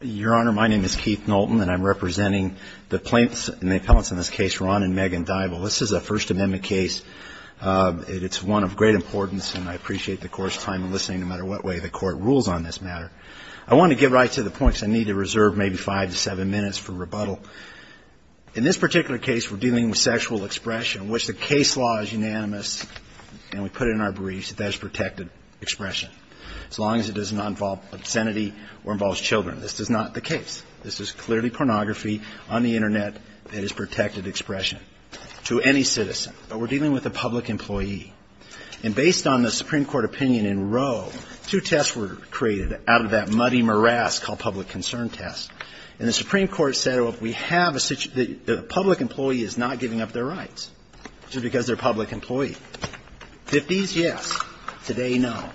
Your Honor, my name is Keith Knowlton, and I'm representing the plaintiffs, and the appellants in this case, Ron and Megan Dible. This is a First Amendment case. It's one of great importance, and I appreciate the Court's time in listening, no matter what way the Court rules on this matter. I want to get right to the point because I need to reserve maybe five to seven minutes for rebuttal. In this particular case, we're dealing with sexual expression, in which the case law is unanimous, and we put it in our briefs that that is protected expression. As long as it does not involve obscenity or involves children. This is not the case. This is clearly pornography on the Internet. It is protected expression to any citizen. But we're dealing with a public employee. And based on the Supreme Court opinion in Roe, two tests were created out of that muddy morass called public concern test. And the Supreme Court said, well, if we have a public employee is not giving up their rights just because they're a public employee. Fifties, yes. Today, no.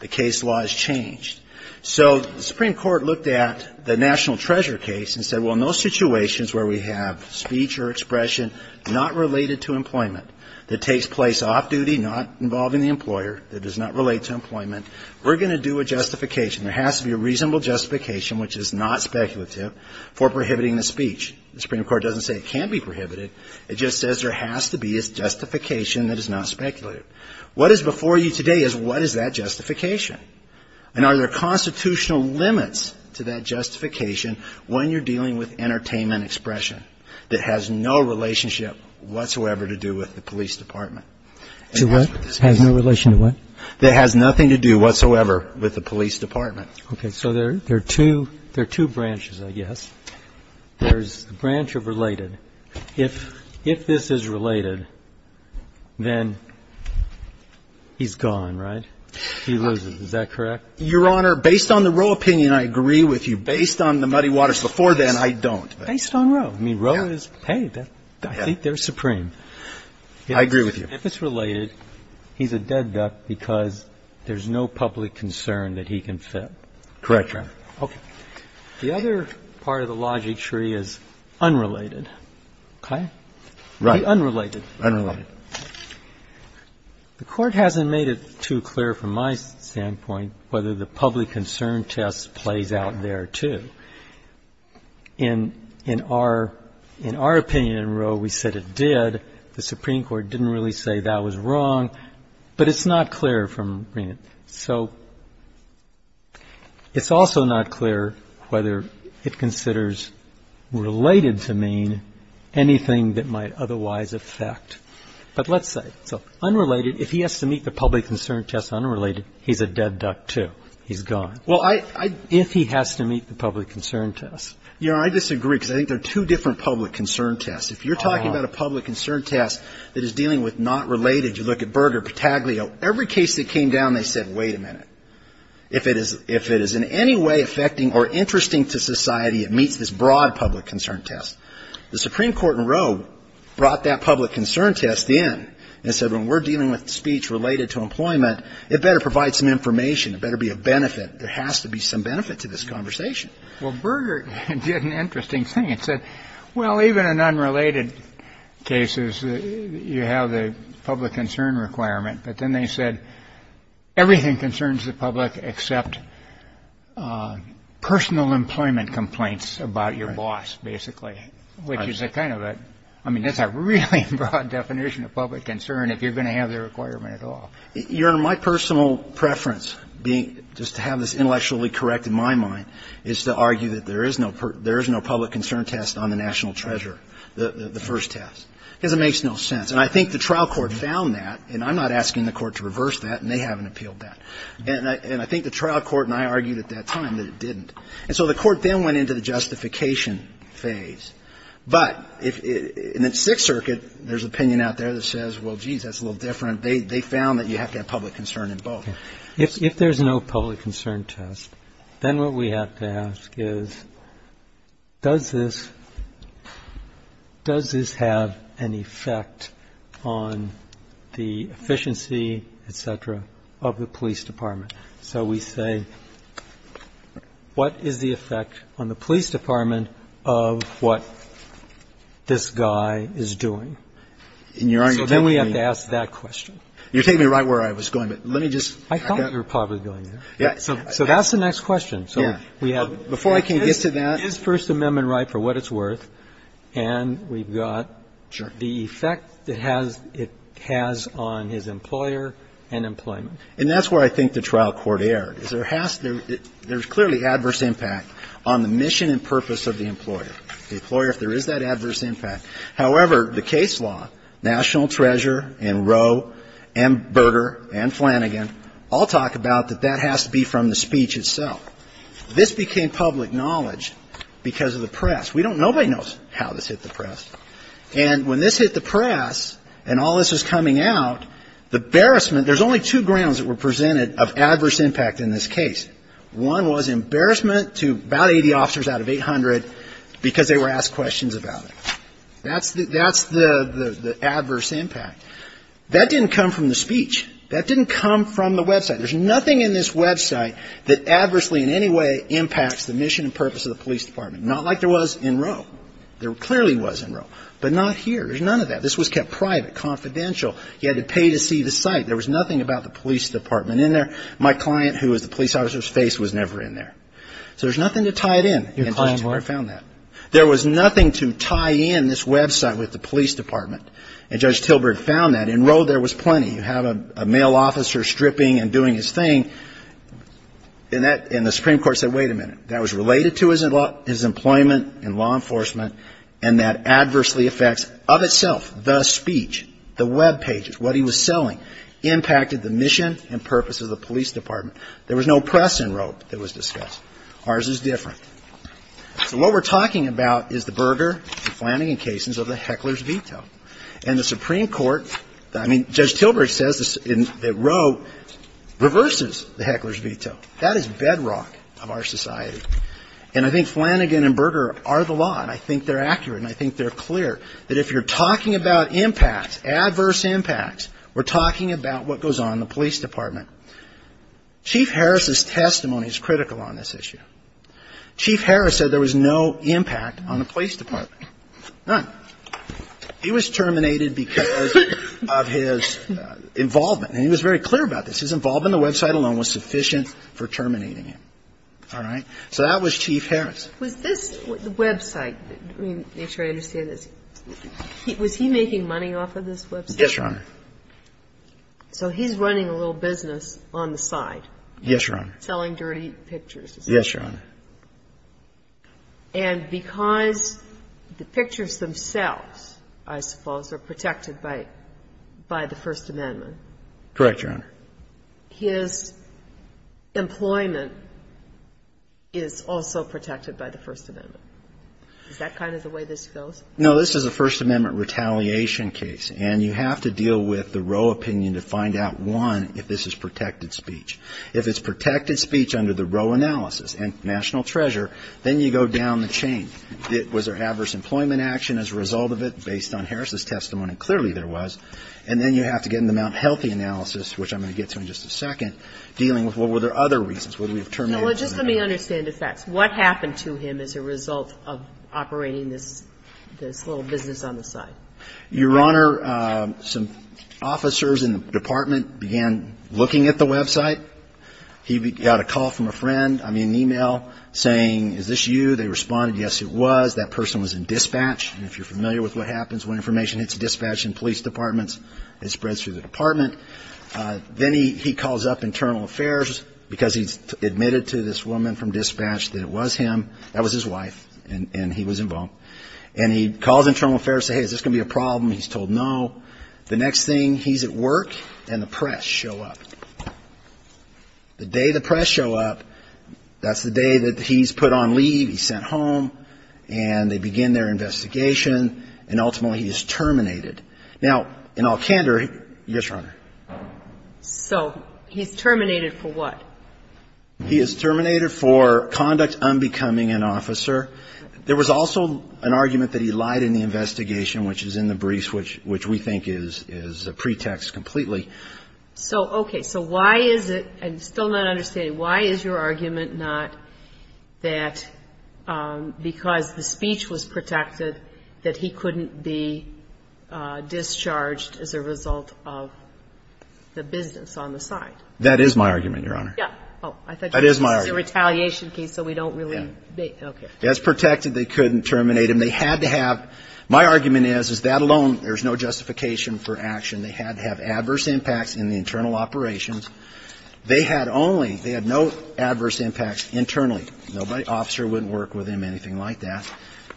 The case law has changed. So the Supreme Court looked at the National Treasure case and said, well, in those situations where we have speech or expression not related to employment, that takes place off-duty, not involving the employer, that does not relate to employment, we're going to do a justification. There has to be a reasonable justification, which is not speculative, for prohibiting the speech. The Supreme Court doesn't say it can't be prohibited. It just says there has to be a justification that is not speculative. What is before you today is what is that justification? And are there constitutional limits to that justification when you're dealing with entertainment expression that has no relationship whatsoever to do with the police department? To what? Has no relation to what? That has nothing to do whatsoever with the police department. Okay. So there are two branches, I guess. There's the branch of related. If this is related, then he's gone, right? He loses. Is that correct? Your Honor, based on the Roe opinion, I agree with you. Based on the Muddy Waters before then, I don't. Based on Roe. I mean, Roe is, hey, I think they're supreme. I agree with you. If it's related, he's a dead duck because there's no public concern that he can fit. Correct, Your Honor. Okay. The other part of the logic tree is unrelated. Okay? Unrelated. Unrelated. The Court hasn't made it too clear from my standpoint whether the public concern test plays out there, too. In our opinion in Roe, we said it did. The Supreme Court didn't really say that was wrong. But it's not clear from Rehn. So it's also not clear whether it considers related to mean anything that might otherwise affect. But let's say, so unrelated, if he has to meet the public concern test unrelated, he's a dead duck, too. He's gone. Well, I If he has to meet the public concern test. Your Honor, I disagree because I think they're two different public concern tests. If you're talking about a public concern test that is dealing with not related, you look at Berger, Pataglio, every case that came down, they said, wait a minute. If it is in any way affecting or interesting to society, it meets this broad public concern test. The Supreme Court in Roe brought that public concern test in and said when we're dealing with speech related to employment, it better provide some information. It better be of benefit. There has to be some benefit to this conversation. Well, Berger did an interesting thing and said, well, even in unrelated cases, you have the public concern requirement. But then they said everything concerns the public except personal employment complaints about your boss, basically. Which is a kind of a, I mean, that's a really broad definition of public concern if you're going to have the requirement at all. Your Honor, my personal preference being, just to have this intellectually correct in my mind, is to argue that there is no public concern test on the national treasure, the first test. Because it makes no sense. And I think the trial court found that, and I'm not asking the court to reverse that, and they haven't appealed that. And I think the trial court and I argued at that time that it didn't. And so the court then went into the justification phase. But in the Sixth Circuit, there's an opinion out there that says, well, geez, that's a little different. They found that you have to have public concern in both. Roberts. If there's no public concern test, then what we have to ask is, does this have an effect on the efficiency, et cetera, of the police department? So we say, what is the effect on the police department of what this guy is doing? So then we have to ask that question. You're taking me right where I was going. But let me just. Roberts. I thought you were probably going there. So that's the next question. So we have. Before I can get to that. Is First Amendment right for what it's worth? And we've got the effect it has on his employer and employment. And that's where I think the trial court erred. There's clearly adverse impact on the mission and purpose of the employer. The employer, if there is that adverse impact. However, the case law, National Treasure and Roe and Berger and Flanagan all talk about that that has to be from the speech itself. This became public knowledge because of the press. Nobody knows how this hit the press. And when this hit the press and all this was coming out, the embarrassment. There's only two grounds that were presented of adverse impact in this case. One was embarrassment to about 80 officers out of 800 because they were asked questions about it. That's the adverse impact. That didn't come from the speech. That didn't come from the website. There's nothing in this website that adversely in any way impacts the mission and purpose of the police department. Not like there was in Roe. There clearly was in Roe. But not here. There's none of that. This was kept private, confidential. You had to pay to see the site. There was nothing about the police department in there. My client who was the police officer's face was never in there. So there's nothing to tie it in. And Judge Tilburg found that. There was nothing to tie in this website with the police department. And Judge Tilburg found that. In Roe, there was plenty. You have a male officer stripping and doing his thing. And the Supreme Court said, wait a minute. That was related to his employment in law enforcement. And that adversely affects of itself the speech, the web pages, what he was selling, impacted the mission and purpose of the police department. There was no press in Roe that was discussed. Ours is different. So what we're talking about is the Berger, Flanagan casings of the heckler's veto. And the Supreme Court, I mean, Judge Tilburg says that Roe reverses the heckler's veto. That is bedrock of our society. And I think Flanagan and Berger are the law. And I think they're accurate. And I think they're clear that if you're talking about impacts, adverse impacts, we're talking about what goes on in the police department. Chief Harris's testimony is critical on this issue. Chief Harris said there was no impact on the police department. None. He was terminated because of his involvement. And he was very clear about this. His involvement in the website alone was sufficient for terminating him. All right? So that was Chief Harris. Was this website, to make sure I understand this, was he making money off of this website? Yes, Your Honor. So he's running a little business on the side. Yes, Your Honor. Selling dirty pictures. Yes, Your Honor. And because the pictures themselves, I suppose, are protected by the First Amendment. Correct, Your Honor. So if you look at Berger, his employment is also protected by the First Amendment. Is that kind of the way this goes? No. This is a First Amendment retaliation case. And you have to deal with the Roe opinion to find out, one, if this is protected speech. If it's protected speech under the Roe analysis and national treasure, then you go down the chain. Was there adverse employment action as a result of it based on Harris's testimony? Clearly there was. And then you have to get into the Mount Healthy analysis, which I'm going to get to in just a second, dealing with, well, were there other reasons? What did we determine? Well, just let me understand the facts. What happened to him as a result of operating this little business on the side? Your Honor, some officers in the department began looking at the website. He got a call from a friend, I mean, an e-mail saying, is this you? They responded, yes, it was. That person was in dispatch. And if you're familiar with what happens when information hits the dispatch and police departments, it spreads through the department. Then he calls up internal affairs, because he's admitted to this woman from dispatch that it was him. That was his wife, and he was involved. And he calls internal affairs to say, hey, is this going to be a problem? He's told no. The next thing, he's at work, and the press show up. The day the press show up, that's the day that he's put on leave, he's sent home, and they begin their investigation, and ultimately he is terminated. Now, in all candor, yes, Your Honor? So he's terminated for what? He is terminated for conduct unbecoming an officer. There was also an argument that he lied in the investigation, which is in the briefs, which we think is a pretext completely. So, okay. So why is it – I'm still not understanding. Why is your argument not that because the speech was protected, that he couldn't be discharged as a result of the business on the side? That is my argument, Your Honor. Yeah. Oh, I thought you were saying it's a retaliation case, so we don't really make – okay. Yeah. As protected, they couldn't terminate him. They had to have – my argument is, is that alone, there's no justification for action. They had to have adverse impacts in the internal operations. They had only – they had no adverse impacts internally. Nobody – officer wouldn't work with him, anything like that.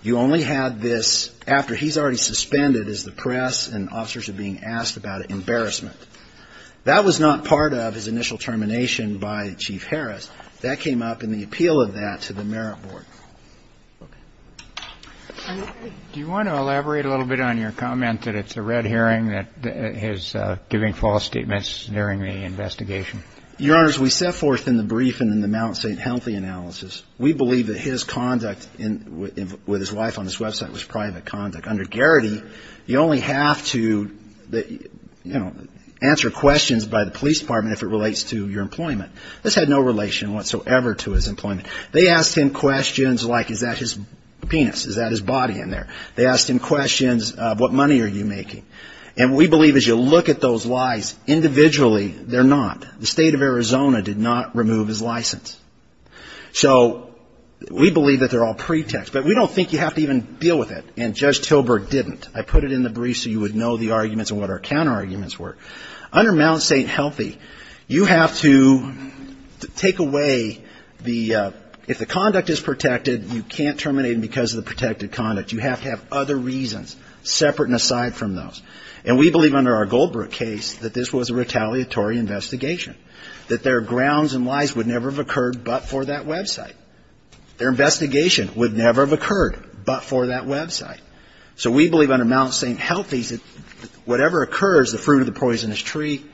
You only had this after he's already suspended as the press and officers are being asked about embarrassment. That was not part of his initial termination by Chief Harris. That came up in the appeal of that to the Merit Board. Okay. Do you want to elaborate a little bit on your comment that it's a red herring that he's giving false statements during the investigation? Your Honors, we set forth in the brief and in the Mount St. Healthy analysis, we believe that his conduct with his wife on this website was private conduct. Under Garrity, you only have to, you know, answer questions by the police department if it relates to your employment. This had no relation whatsoever to his employment. They asked him questions like, is that his penis? Is that his body in there? They asked him questions of what money are you making? And we believe as you look at those lies individually, they're not. The State of Arizona did not remove his license. So we believe that they're all pretexts. But we don't think you have to even deal with it, and Judge Tilburg didn't. I put it in the brief so you would know the arguments and what our counterarguments were. Under Mount St. Healthy, you have to take away the – if the conduct is protected, you can't terminate him because of the protected conduct. You have to have other reasons separate and aside from those. And we believe under our Goldbrook case that this was a retaliatory investigation, that their grounds and lies would never have occurred but for that website. Their investigation would never have occurred but for that website. So we believe under Mount St. Healthy that whatever occurs, the fruit of the poisonous tree,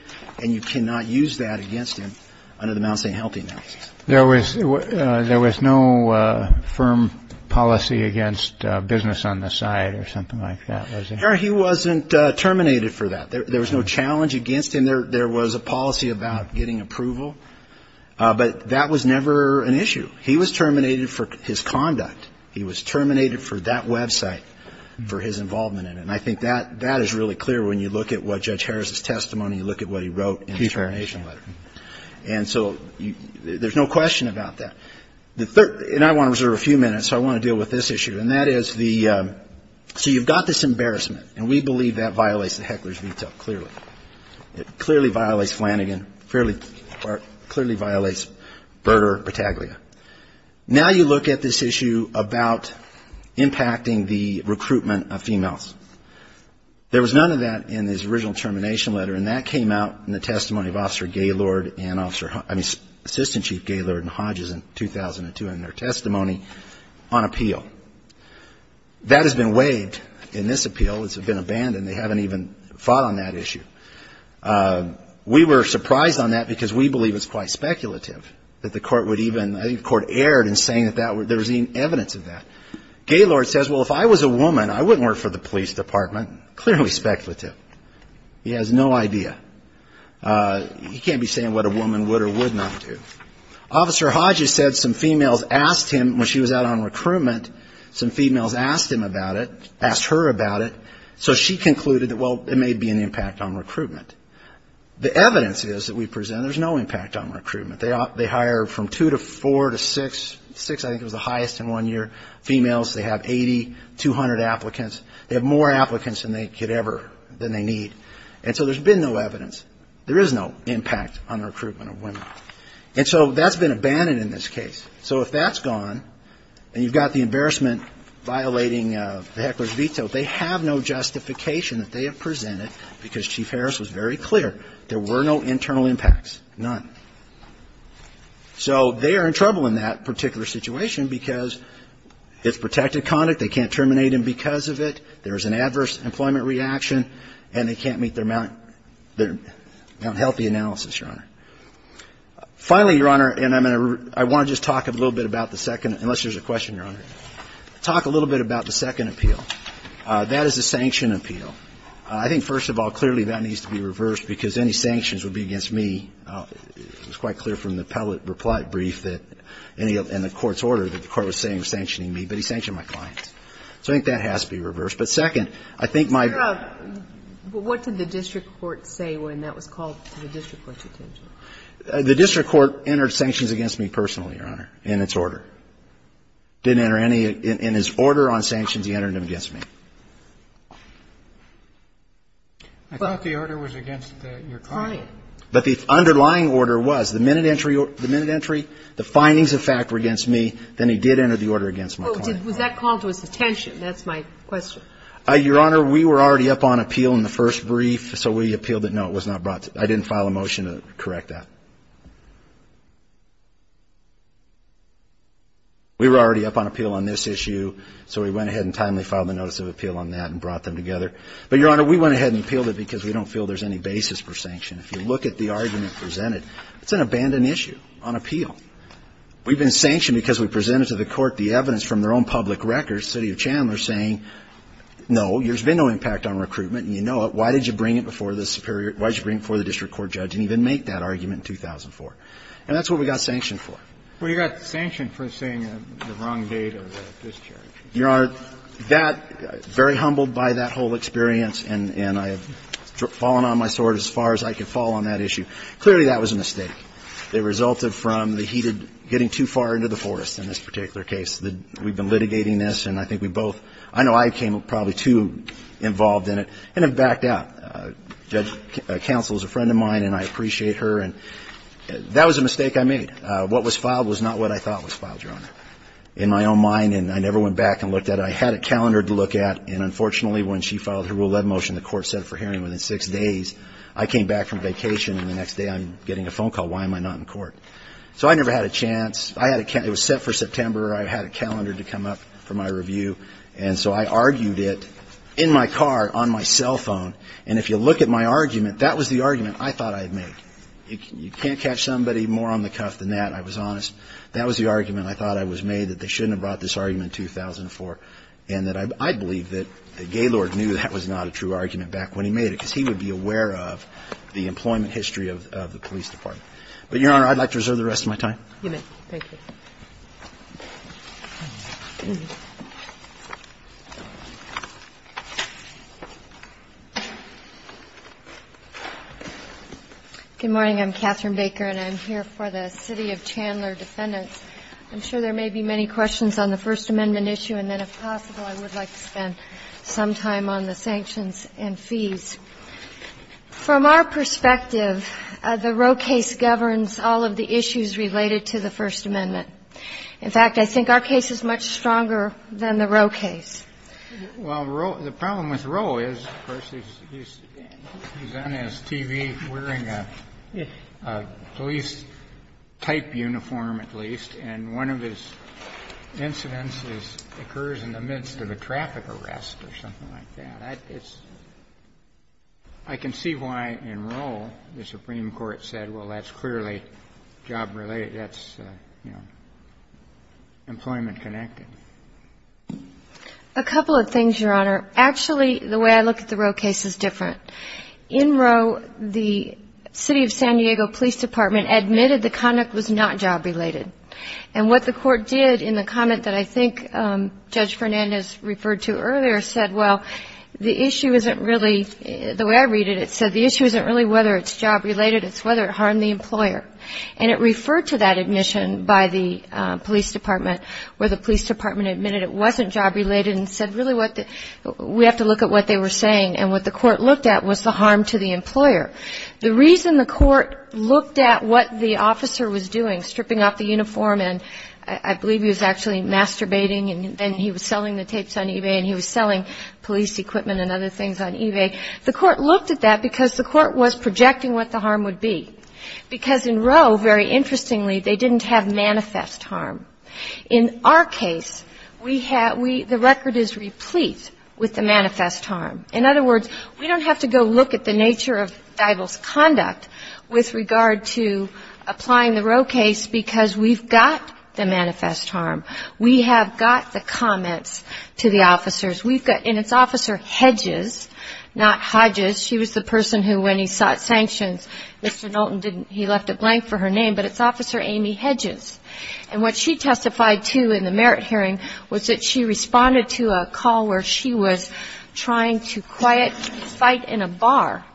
and you cannot use that against him under the Mount St. Healthy analysis. There was no firm policy against business on the side or something like that, was there? No, he wasn't terminated for that. There was no challenge against him. There was a policy about getting approval. But that was never an issue. He was terminated for his conduct. He was terminated for that website, for his involvement in it. And I think that is really clear when you look at what Judge Harris' testimony, you look at what he wrote in his termination letter. And so there's no question about that. And I want to reserve a few minutes, so I want to deal with this issue. And that is the so you've got this embarrassment. And we believe that violates the heckler's veto, clearly. It clearly violates Flanagan, clearly violates Berger or Taglia. Now you look at this issue about impacting the recruitment of females. There was none of that in his original termination letter, and that came out in the testimony of Officer Gaylord and Officer, I mean, Assistant Chief Gaylord and Hodges in 2002 in their testimony on appeal. That has been waived in this appeal. It's been abandoned. They haven't even fought on that issue. We were surprised on that because we believe it's quite speculative that the court would even, I think the court erred in saying that there was any evidence of that. Gaylord says, well, if I was a woman, I wouldn't work for the police department, clearly speculative. He has no idea. He can't be saying what a woman would or would not do. Officer Hodges said some females asked him when she was out on recruitment, some females asked him about it, asked her about it. So she concluded that, well, it may be an impact on recruitment. The evidence is that we present there's no impact on recruitment. They hire from two to four to six, six I think was the highest in one year, females. They have 80, 200 applicants. They have more applicants than they could ever, than they need. And so there's been no evidence. There is no impact on recruitment of women. And so that's been abandoned in this case. So if that's gone and you've got the embarrassment violating the heckler's veto, they have no justification that they have presented because Chief Harris was very clear, there were no internal impacts, none. So they are in trouble in that particular situation because it's protected conduct, they can't terminate him because of it, there's an adverse employment reaction, and they can't meet their Mount Healthy analysis, Your Honor. Finally, Your Honor, and I want to just talk a little bit about the second, unless there's a question, Your Honor, talk a little bit about the second appeal. That is the sanction appeal. I think, first of all, clearly that needs to be reversed because any sanctions would be against me. It was quite clear from the pellet reply brief that any of the court's order that the So I think that has to be reversed. But second, I think my ---- But what did the district court say when that was called to the district court's attention? The district court entered sanctions against me personally, Your Honor, in its order. It didn't enter any in its order on sanctions. It entered them against me. I thought the order was against your client. But the underlying order was the minute entry, the findings of fact were against Then it did enter the order against my client. Well, was that called to his attention? That's my question. Your Honor, we were already up on appeal in the first brief, so we appealed it. No, it was not brought. I didn't file a motion to correct that. We were already up on appeal on this issue, so we went ahead and timely filed the notice of appeal on that and brought them together. But, Your Honor, we went ahead and appealed it because we don't feel there's any basis for sanction. If you look at the argument presented, it's an abandoned issue on appeal. We've been sanctioned because we presented to the court the evidence from their own public records, city of Chandler, saying, no, there's been no impact on recruitment and you know it. Why did you bring it before the district court judge and even make that argument in 2004? And that's what we got sanctioned for. Well, you got sanctioned for saying the wrong date of discharge. Your Honor, that, very humbled by that whole experience, and I have fallen on my sword as far as I could fall on that issue. Clearly, that was a mistake. It resulted from the heated, getting too far into the forest in this particular case. We've been litigating this, and I think we both, I know I came probably too involved in it and have backed out. Judge Counsel is a friend of mine, and I appreciate her. And that was a mistake I made. What was filed was not what I thought was filed, Your Honor. In my own mind, and I never went back and looked at it. I had a calendar to look at, and unfortunately, when she filed her Rule 11 motion, the court said for hearing within six days. I came back from vacation, and the next day I'm getting a phone call. Why am I not in court? So I never had a chance. It was set for September. I had a calendar to come up for my review, and so I argued it in my car on my cell phone. And if you look at my argument, that was the argument I thought I'd make. You can't catch somebody more on the cuff than that, I was honest. That was the argument I thought I was made, that they shouldn't have brought this argument in 2004, and that I believe that the Gaylord knew that was not a true argument back when he made it, because he would be aware of the employment history of the police department. But, Your Honor, I'd like to reserve the rest of my time. You may. Thank you. Good morning. I'm Catherine Baker, and I'm here for the city of Chandler defendants. I'm sure there may be many questions on the First Amendment issue, and then if possible, I would like to spend some time on the sanctions and fees. From our perspective, the Roe case governs all of the issues related to the First Amendment. In fact, I think our case is much stronger than the Roe case. Well, Roe – the problem with Roe is, of course, he's on his TV wearing a police-type uniform, at least, and one of his incidents occurs in the midst of a traffic arrest or something like that. I can see why, in Roe, the Supreme Court said, well, that's clearly job-related. That's employment-connected. A couple of things, Your Honor. Actually, the way I look at the Roe case is different. In Roe, the city of San Diego Police Department admitted the conduct was not job-related. And what the court did in the comment that I think Judge Fernandez referred to earlier said, well, the issue isn't really – the way I read it, it said, the issue isn't really whether it's job-related, it's whether it harmed the employer. And it referred to that admission by the police department where the police department admitted it wasn't job-related and said, really, we have to look at what they were saying. And what the court looked at was the harm to the employer. The reason the court looked at what the officer was doing, stripping off the uniform and I believe he was actually masturbating and then he was selling the tapes on eBay and he was selling police equipment and other things on eBay, the court looked at that because the court was projecting what the harm would be. Because in Roe, very interestingly, they didn't have manifest harm. In our case, we have – the record is replete with the manifest harm. In other words, we don't have to go look at the nature of Eibel's conduct with regard to applying the Roe case because we've got the manifest harm. We have got the comments to the officers. We've got – and it's Officer Hedges, not Hodges. She was the person who, when he sought sanctions, Mr. Knowlton didn't – he left it blank for her name, but it's Officer Amy Hedges. And what she testified to in the merit hearing was that she responded to a call where she was trying to quiet a fight in a bar.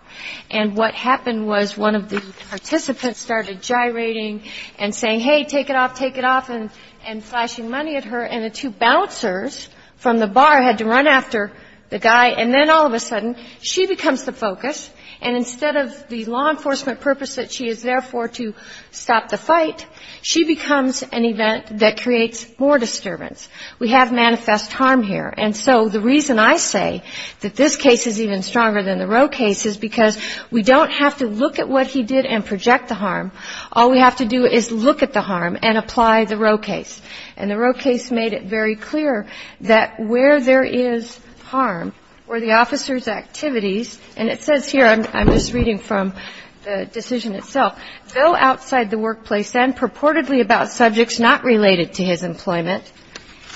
And what happened was one of the participants started gyrating and saying, hey, take it off, take it off, and flashing money at her. And the two bouncers from the bar had to run after the guy. And then all of a sudden, she becomes the focus. And instead of the law enforcement purpose that she is there for to stop the fight, she becomes an event that creates more disturbance. We have manifest harm here. And so the reason I say that this case is even stronger than the Roe case is because we don't have to look at what he did and project the harm. All we have to do is look at the harm and apply the Roe case. And the Roe case made it very clear that where there is harm were the officer's activities. And it says here – I'm just reading from the decision itself. Though outside the workplace and purportedly about subjects not related to his employment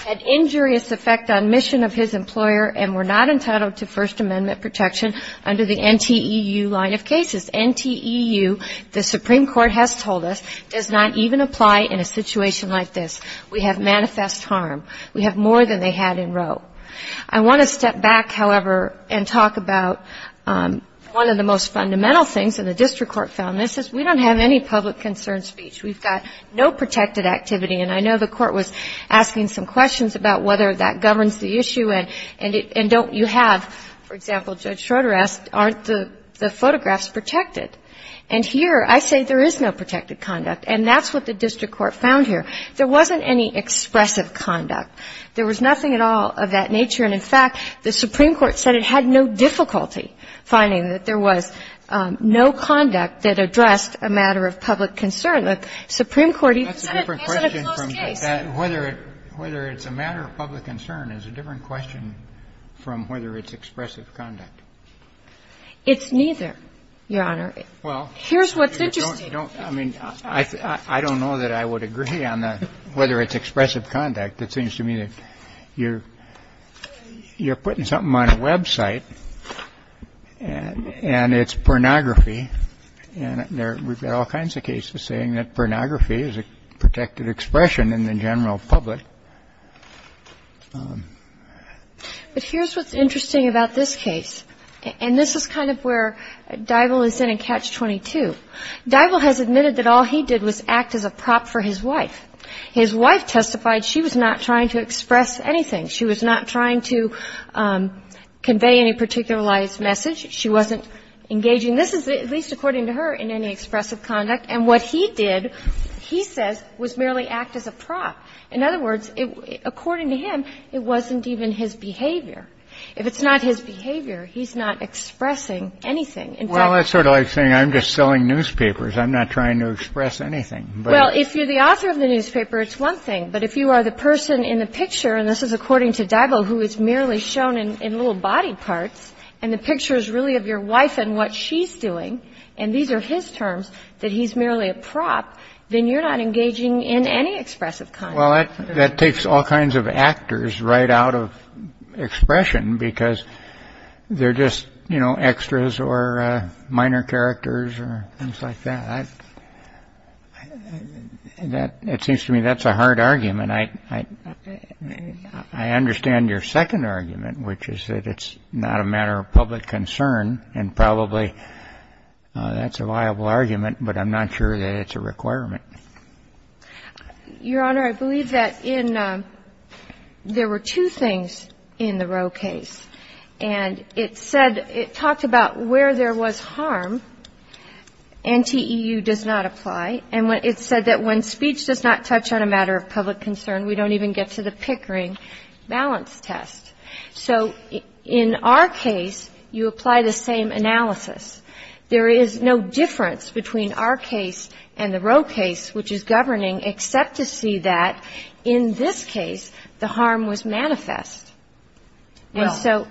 had injurious effect on mission of his employer and were not entitled to First Amendment protection under the NTEU line of cases. NTEU, the Supreme Court has told us, does not even apply in a situation like this. We have manifest harm. We have more than they had in Roe. I want to step back, however, and talk about one of the most fundamental things, and the district court found this, is we don't have any public concern speech. We've got no protected activity. And I know the court was asking some questions about whether that governs the issue and don't you have, for example, Judge Schroeder asked, aren't the photographs protected? And here I say there is no protected conduct. And that's what the district court found here. There wasn't any expressive conduct. There was nothing at all of that nature. And, in fact, the Supreme Court said it had no difficulty finding that there was no The Supreme Court even said it had no difficulty. And I don't know whether it's a matter of public concern. It's a different question from whether it's expressive conduct. It's neither, Your Honor. Here's what's interesting. I don't know that I would agree on whether it's expressive conduct. It seems to me that you're putting something on a website and it's pornography and we've got all kinds of cases saying that pornography is a protected expression in the general public. But here's what's interesting about this case. And this is kind of where Divell is in in Catch-22. Divell has admitted that all he did was act as a prop for his wife. His wife testified she was not trying to express anything. She was not trying to convey any particularized message. She wasn't engaging. This is, at least according to her, in any expressive conduct. And what he did, he says, was merely act as a prop. In other words, according to him, it wasn't even his behavior. If it's not his behavior, he's not expressing anything. In fact he's not. Well, that's sort of like saying I'm just selling newspapers. I'm not trying to express anything. Well, if you're the author of the newspaper, it's one thing. But if you are the person in the picture, and this is according to Divell, who is merely shown in little body parts, and the picture is really of your wife and what she's doing, and these are his terms, that he's merely a prop, then you're not engaging in any expressive conduct. Well, that takes all kinds of actors right out of expression because they're just, you know, extras or minor characters or things like that. It seems to me that's a hard argument. And I understand your second argument, which is that it's not a matter of public concern, and probably that's a viable argument, but I'm not sure that it's a requirement. Your Honor, I believe that in there were two things in the Roe case. And it said, it talked about where there was harm. NTEU does not apply. And it said that when speech does not touch on a matter of public concern, we don't even get to the Pickering balance test. So in our case, you apply the same analysis. There is no difference between our case and the Roe case, which is governing, except to see that in this case the harm was manifest. And so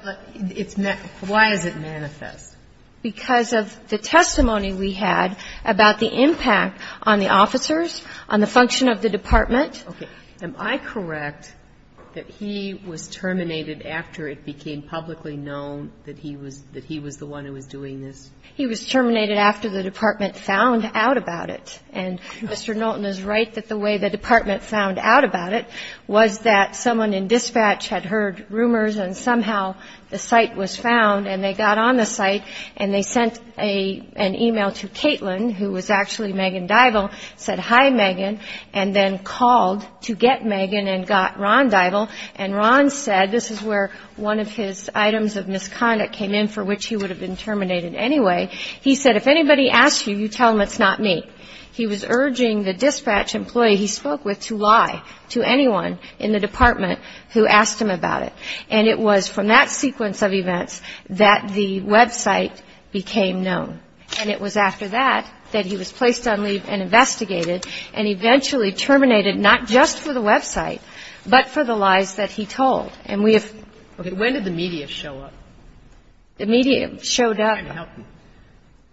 why is it manifest? Because of the testimony we had about the impact on the officers, on the function of the department. Okay. Am I correct that he was terminated after it became publicly known that he was the one who was doing this? He was terminated after the department found out about it. And Mr. Knowlton is right that the way the department found out about it was that someone in dispatch had heard rumors and somehow the site was found and they got on the site and they sent an e-mail to Caitlin, who was actually Megan Dival, said, hi, Megan, and then called to get Megan and got Ron Dival. And Ron said, this is where one of his items of misconduct came in for which he would have been terminated anyway, he said, if anybody asks you, you tell them it's not me. He was urging the dispatch employee he spoke with to lie to anyone in the department who asked him about it. And it was from that sequence of events that the Web site became known. And it was after that that he was placed on leave and investigated and eventually terminated not just for the Web site, but for the lies that he told. Okay. When did the media show up? The media showed up.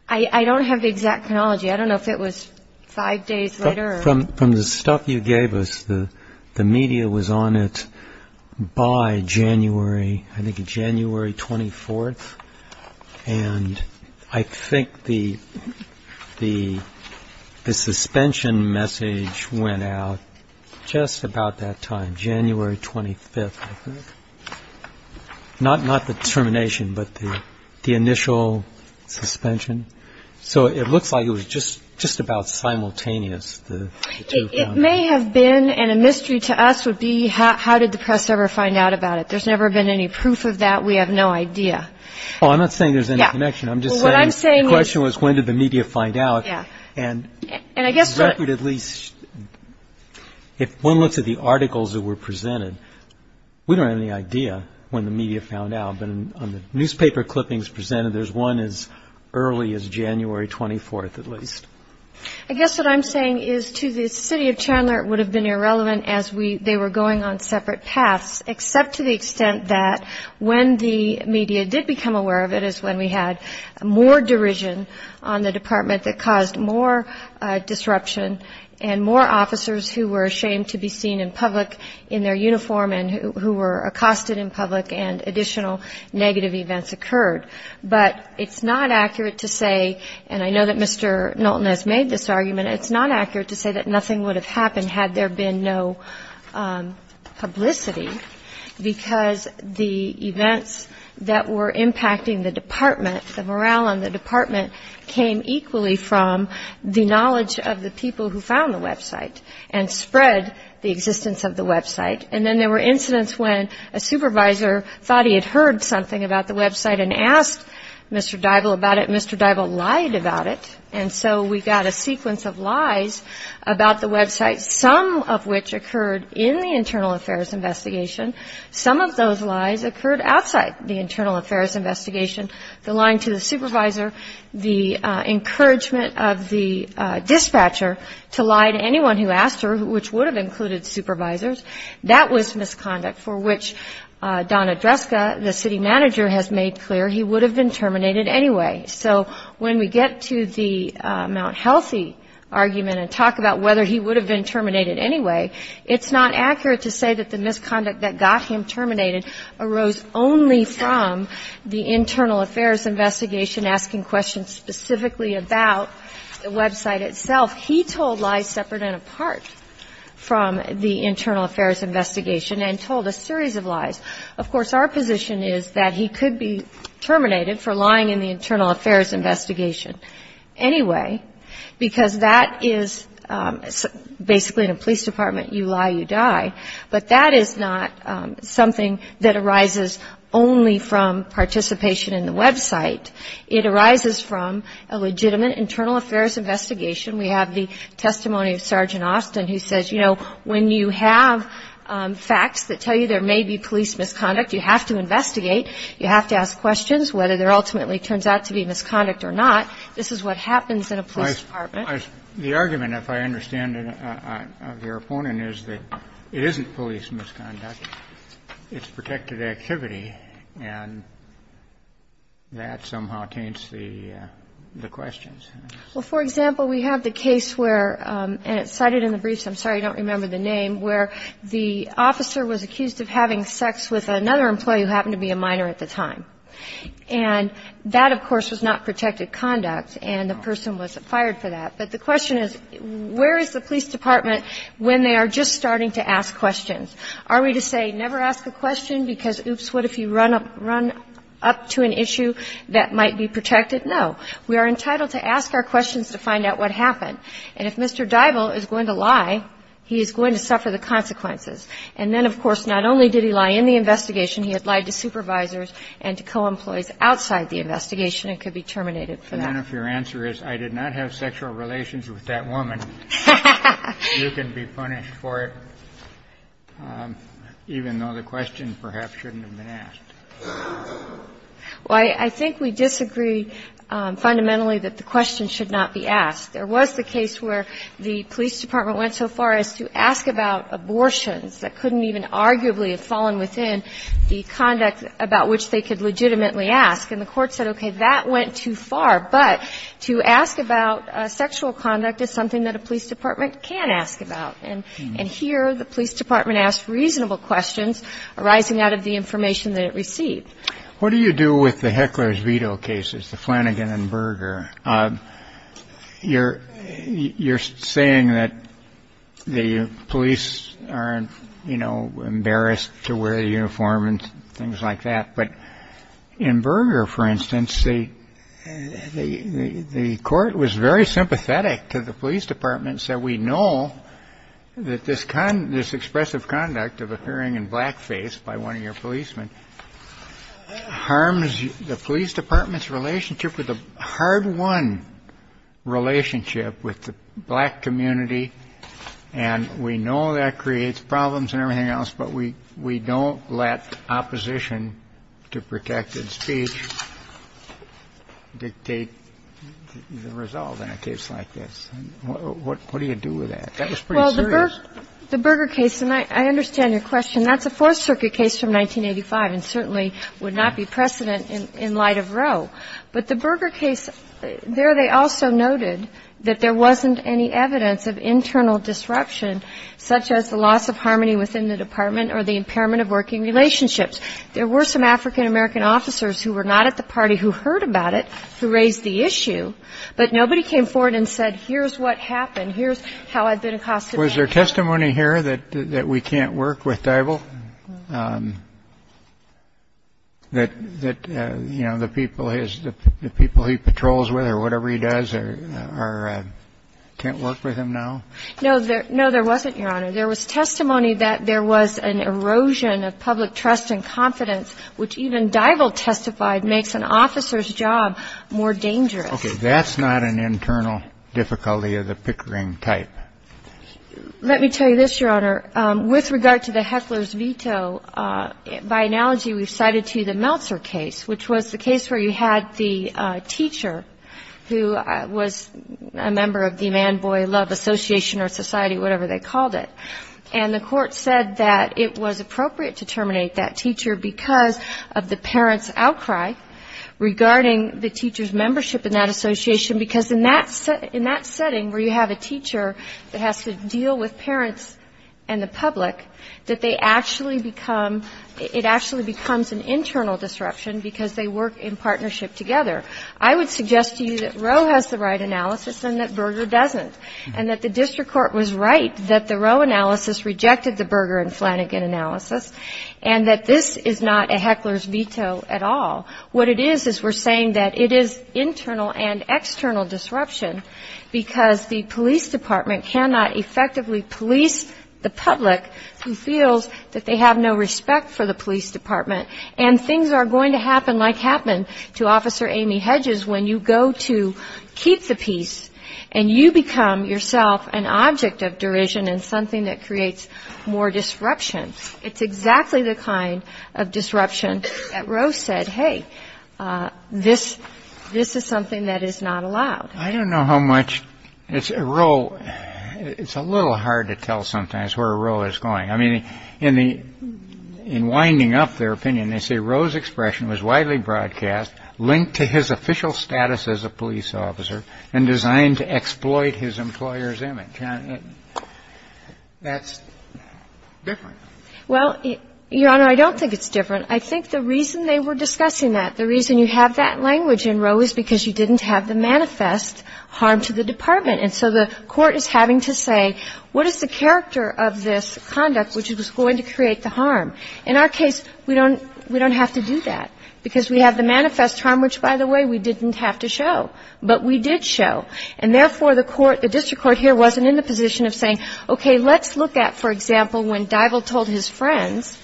I don't have the exact chronology. I don't know if it was five days later. From the stuff you gave us, the media was on it by January, I think January 24th. And I think the suspension message went out just about that time, January 25th, I think. Not the termination, but the initial suspension. So it looks like it was just about simultaneous. It may have been, and a mystery to us would be how did the press ever find out about it. There's never been any proof of that. We have no idea. Oh, I'm not saying there's any connection. I'm just saying the question was when did the media find out. Yeah. And if one looks at the articles that were presented, we don't have any idea when the media found out. On the newspaper clippings presented, there's one as early as January 24th, at least. I guess what I'm saying is to the city of Chandler it would have been irrelevant as they were going on separate paths, except to the extent that when the media did become aware of it is when we had more derision on the department that caused more disruption and more officers who were ashamed to be seen in public in their uniform and who were accosted in public and additional negative events occurred. But it's not accurate to say, and I know that Mr. Knowlton has made this argument, it's not accurate to say that nothing would have happened had there been no publicity, because the events that were impacting the department, the morale on the department, came equally from the knowledge of the people who found the website and spread the existence of the website. And then there were incidents when a supervisor thought he had heard something about the website and asked Mr. Dybul about it, and Mr. Dybul lied about it. And so we got a sequence of lies about the website, some of which occurred in the internal affairs investigation. Some of those lies occurred outside the internal affairs investigation. The lying to the supervisor, the encouragement of the dispatcher to lie to anyone who asked her, which would have included supervisors, that was misconduct, for which Donna Dreska, the city manager, has made clear he would have been terminated anyway. So when we get to the Mount Healthy argument and talk about whether he would have been terminated anyway, it's not accurate to say that the misconduct that got him terminated arose only from the internal affairs investigation asking questions specifically about the website itself. He told lies separate and apart from the internal affairs investigation and told a series of lies. Of course, our position is that he could be terminated for lying in the internal affairs investigation anyway, because that is basically in a police department, you lie, you die. But that is not something that arises only from participation in the website. It arises from a legitimate internal affairs investigation. We have the testimony of Sergeant Austin who says, you know, when you have facts that tell you there may be police misconduct, you have to investigate. You have to ask questions whether there ultimately turns out to be misconduct or not. This is what happens in a police department. The argument, if I understand it, of your opponent is that it isn't police misconduct. It's protected activity, and that somehow taints the questions. Well, for example, we have the case where, and it's cited in the briefs, I'm sorry, I don't remember the name, where the officer was accused of having sex with another employee who happened to be a minor at the time. And that, of course, was not protected conduct, and the person was fired for that. But the question is, where is the police department when they are just starting to ask questions? Are we to say never ask a question because, oops, what if you run up to an issue that might be protected? No. We are entitled to ask our questions to find out what happened. And if Mr. Dybul is going to lie, he is going to suffer the consequences. And then, of course, not only did he lie in the investigation, he had lied to supervisors and to co-employees outside the investigation and could be terminated for that. And if your answer is, I did not have sexual relations with that woman, you can be punished for it, even though the question perhaps shouldn't have been asked. Well, I think we disagree fundamentally that the question should not be asked. There was the case where the police department went so far as to ask about abortions that couldn't even arguably have fallen within the conduct about which they could legitimately ask. And the Court said, okay, that went too far. But to ask about sexual conduct is something that a police department can ask about. And here, the police department asked reasonable questions arising out of the information that it received. What do you do with the Heckler's veto cases, the Flanagan and Berger? You're saying that the police aren't, you know, embarrassed to wear the uniform and things like that. But in Berger, for instance, the court was very sympathetic to the police department, said we know that this kind of this expressive conduct of appearing in blackface by one of your policemen harms the police department's relationship with the hard one relationship with the black community. And we know that creates problems and everything else. But we we don't let opposition to protected speech dictate the result in a case like this. What do you do with that? That was pretty serious. Well, the Berger case, and I understand your question, that's a Fourth Circuit case from 1985 and certainly would not be precedent in light of Roe. But the Berger case, there they also noted that there wasn't any evidence of internal disruption such as the loss of harmony within the department or the impairment of working relationships. There were some African-American officers who were not at the party who heard about it who raised the issue. But nobody came forward and said here's what happened. Here's how I've been accosted. Was there testimony here that we can't work with Dival? That, you know, the people he patrols with or whatever he does can't work with him now? No, there wasn't, Your Honor. There was testimony that there was an erosion of public trust and confidence, which even Dival testified makes an officer's job more dangerous. Okay. That's not an internal difficulty of the Pickering type. Let me tell you this, Your Honor. With regard to the Heckler's veto, by analogy, we've cited to you the Meltzer case, which was the case where you had the teacher who was a member of the Man-Boy Love Association or Society, whatever they called it. And the court said that it was appropriate to terminate that teacher because of the parent's outcry regarding the teacher's membership in that association because in that setting where you have a teacher that has to deal with parents and the public, that they actually become — it actually becomes an internal disruption because they work in partnership together. I would suggest to you that Roe has the right analysis and that Berger doesn't, and that the district court was right that the Roe analysis rejected the Berger and Flanagan analysis, and that this is not a Heckler's veto at all. What it is is we're saying that it is internal and external disruption because the police department cannot effectively police the public who feels that they have no respect for the police department. And things are going to happen like happened to Officer Amy Hedges when you go to keep the peace and you become yourself an object of derision and something that creates more disruption. It's exactly the kind of disruption that Roe said, hey, this is something that is not allowed. I don't know how much Roe — it's a little hard to tell sometimes where Roe is going. I mean, in winding up their opinion, they say Roe's expression was widely broadcast, linked to his official status as a police officer, and designed to exploit his employer's image. And that's different. Well, Your Honor, I don't think it's different. I think the reason they were discussing that, the reason you have that language in Roe is because you didn't have the manifest harm to the department. And so the court is having to say what is the character of this conduct which was going to create the harm. In our case, we don't have to do that, because we have the manifest harm, which, by the way, we didn't have to show. But we did show. And therefore, the court, the district court here wasn't in the position of saying, okay, let's look at, for example, when Divell told his friends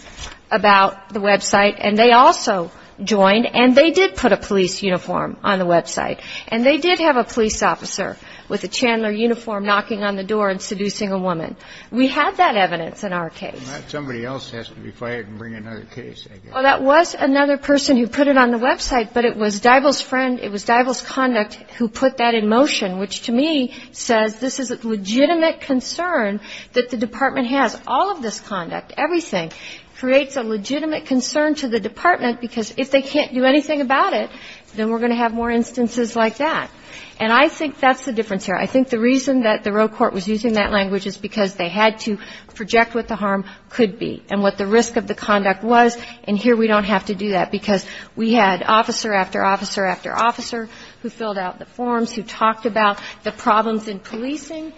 about the website and they also joined, and they did put a police uniform on the website. And they did have a police officer with a Chandler uniform knocking on the door and seducing a woman. We had that evidence in our case. And not somebody else has to be fired and bring another case, I guess. Well, that was another person who put it on the website, but it was Divell's friend, it was Divell's conduct who put that in motion, which, to me, says this is a legitimate concern that the department has. All of this conduct, everything, creates a legitimate concern to the department, because if they can't do anything about it, then we're going to have more instances like that. And I think that's the difference here. I think the reason that the Roe court was using that language is because they had to project what the harm could be and what the risk of the conduct was. And here we don't have to do that, because we had officer after officer after officer who filled out the forms, who talked about the problems in policing.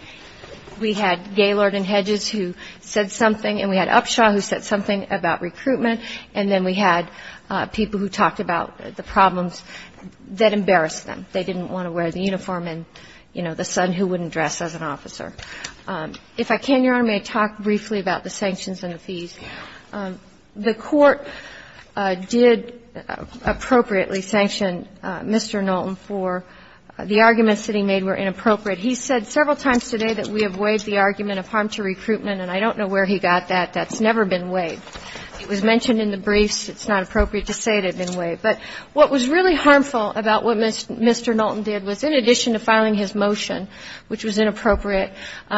We had Gaylord and Hedges who said something, and we had Upshaw who said something about recruitment. And then we had people who talked about the problems that embarrassed them. They didn't want to wear the uniform and, you know, the son who wouldn't dress as an officer. If I can, Your Honor, may I talk briefly about the sanctions and the fees? The court did appropriately sanction Mr. Knowlton for the arguments that he made were inappropriate. He said several times today that we have waived the argument of harm to recruitment, and I don't know where he got that. That's never been waived. It was mentioned in the briefs. It's not appropriate to say it had been waived. But what was really harmful about what Mr. Knowlton did was, in addition to filing his motion, which was inappropriate,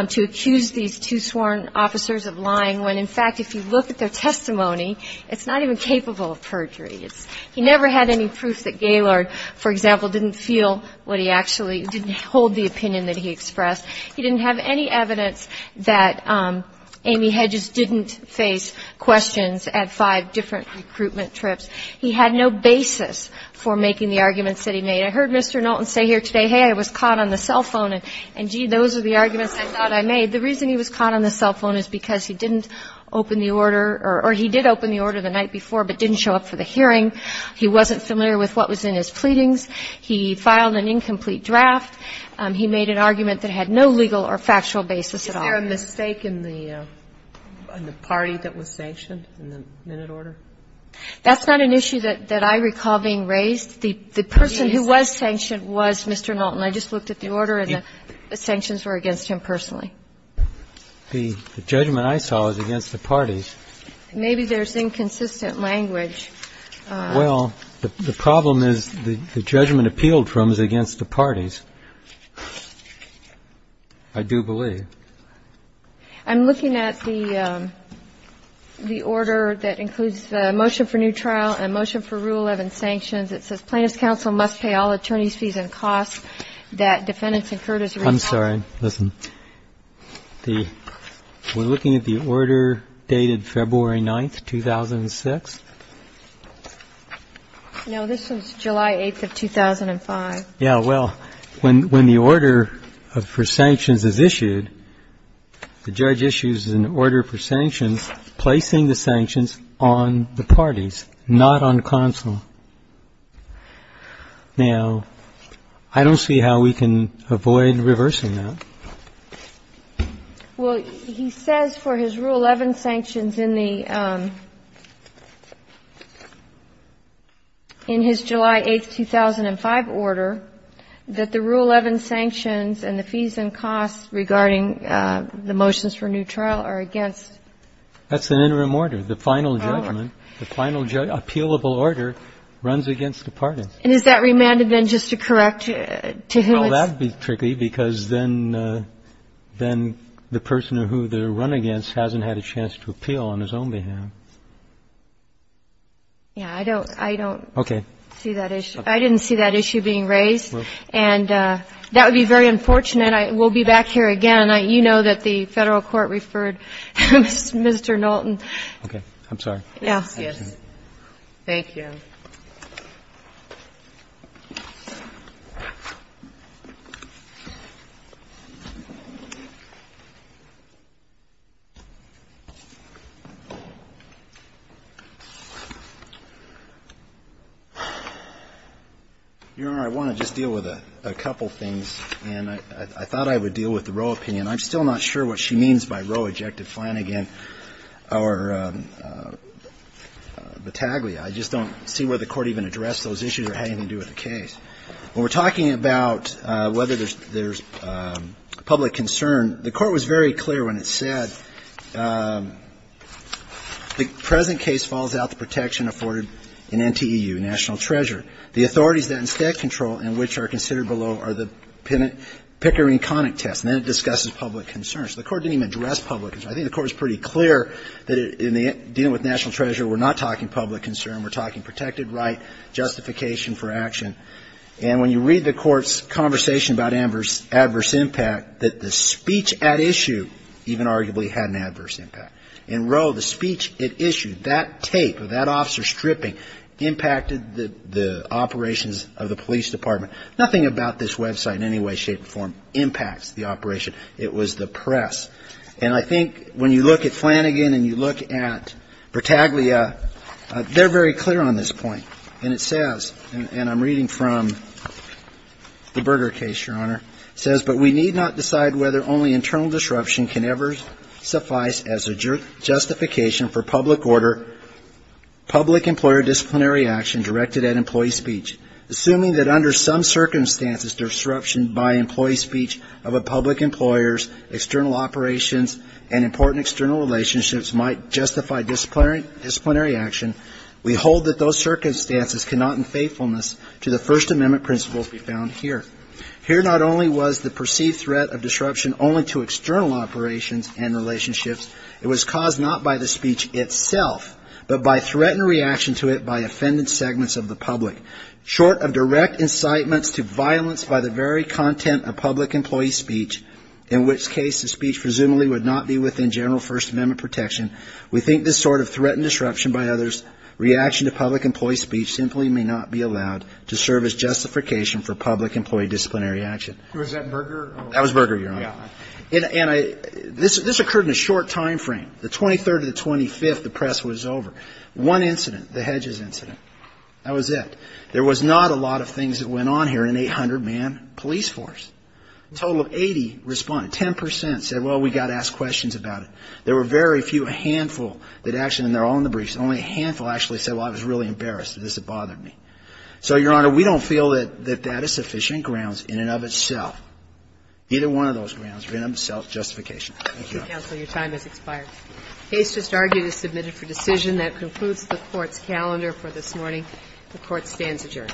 to accuse these two sworn officers of lying when, in fact, if you look at their testimony, it's not even capable of perjury. He never had any proof that Gaylord, for example, didn't feel what he actually didn't hold the opinion that he expressed. He didn't have any evidence that Amy Hedges didn't face questions at five different recruitment trips. He had no basis for making the arguments that he made. I heard Mr. Knowlton say here today, hey, I was caught on the cell phone, and, gee, those are the arguments I thought I made. The reason he was caught on the cell phone is because he didn't open the order or he did open the order the night before, but didn't show up for the hearing. He wasn't familiar with what was in his pleadings. He filed an incomplete draft. He made an argument that had no legal or factual basis at all. Is there a mistake in the party that was sanctioned in the minute order? That's not an issue that I recall being raised. The person who was sanctioned was Mr. Knowlton. I just looked at the order and the sanctions were against him personally. The judgment I saw is against the parties. Maybe there's inconsistent language. Well, the problem is the judgment appealed from is against the parties, I do believe. I'm looking at the order that includes the motion for new trial and the motion for Rule 11 sanctions. It says plaintiff's counsel must pay all attorney's fees and costs that defendants incurred as a result. I'm sorry. Listen. We're looking at the order dated February 9th, 2006? No, this was July 8th of 2005. Yeah. Well, when the order for sanctions is issued, the judge issues an order for sanctions on the parties, not on counsel. Now, I don't see how we can avoid reversing that. Well, he says for his Rule 11 sanctions in the ‑‑ in his July 8th, 2005 order that the Rule 11 sanctions and the fees and costs regarding the motions for new trial are against. That's an interim order. The final judgment, the final appealable order runs against the parties. And is that remanded then just to correct to whom it's ‑‑ Well, that would be tricky because then the person who they run against hasn't had a chance to appeal on his own behalf. Yeah, I don't see that issue. I didn't see that issue being raised. And that would be very unfortunate. We'll be back here again. And you know that the Federal Court referred Mr. Knowlton. Okay. I'm sorry. Yes. Thank you. Your Honor, I want to just deal with a couple things. And I thought I would deal with the Roe opinion. I'm still not sure what she means by Roe, Ejected, Flanagan, or Battaglia. I just don't see where the Court even addressed those issues or had anything to do with the case. When we're talking about whether there's public concern, the Court was very clear when it said, the present case falls out of the protection afforded in NTEU, national treasure. The authorities that instead control and which are considered below are the Pickering Connick test. And then it discusses public concerns. The Court didn't even address public concerns. I think the Court was pretty clear that in dealing with national treasure, we're not talking public concern. We're talking protected right, justification for action. And when you read the Court's conversation about adverse impact, that the speech at issue even arguably had an adverse impact. In Roe, the speech at issue, that tape of that officer stripping impacted the operations of the police department. Nothing about this website in any way, shape, or form impacts the operation. It was the press. And I think when you look at Flanagan and you look at Battaglia, they're very clear on this point. And it says, and I'm reading from the Berger case, Your Honor, it says, but we need not decide whether only internal disruption can ever suffice as a justification for public order, public employer disciplinary action directed at employee speech. Assuming that under some circumstances, disruption by employee speech of a public employer's external operations and important external relationships might justify disciplinary action, we hold that those circumstances cannot in faithfulness to the First Amendment principles be found here. Here not only was the perceived threat of disruption only to external operations and relationships, it was caused not by the speech itself, but by threat and reaction to it by offended segments of the public. Short of direct incitements to violence by the very content of public employee speech, in which case the speech presumably would not be within general First Amendment protection, we think this sort of threat and disruption by others, reaction to public employee speech simply may not be allowed to serve as justification for public employee disciplinary action. Was that Berger? That was Berger, Your Honor. Yeah. And this occurred in a short time frame. The 23rd to the 25th, the press was over. One incident, the Hedges incident, that was it. There was not a lot of things that went on here in an 800-man police force. A total of 80 responded. Ten percent said, well, we've got to ask questions about it. There were very few, a handful that actually, and they're all in the briefs, only a handful actually said, well, I was really embarrassed. This had bothered me. So, Your Honor, we don't feel that that is sufficient grounds in and of itself, either one of those grounds, in and of itself, justification. Thank you, Your Honor. Counsel, your time has expired. The case just argued is submitted for decision. That concludes the Court's calendar for this morning. The Court stands adjourned. Thank you.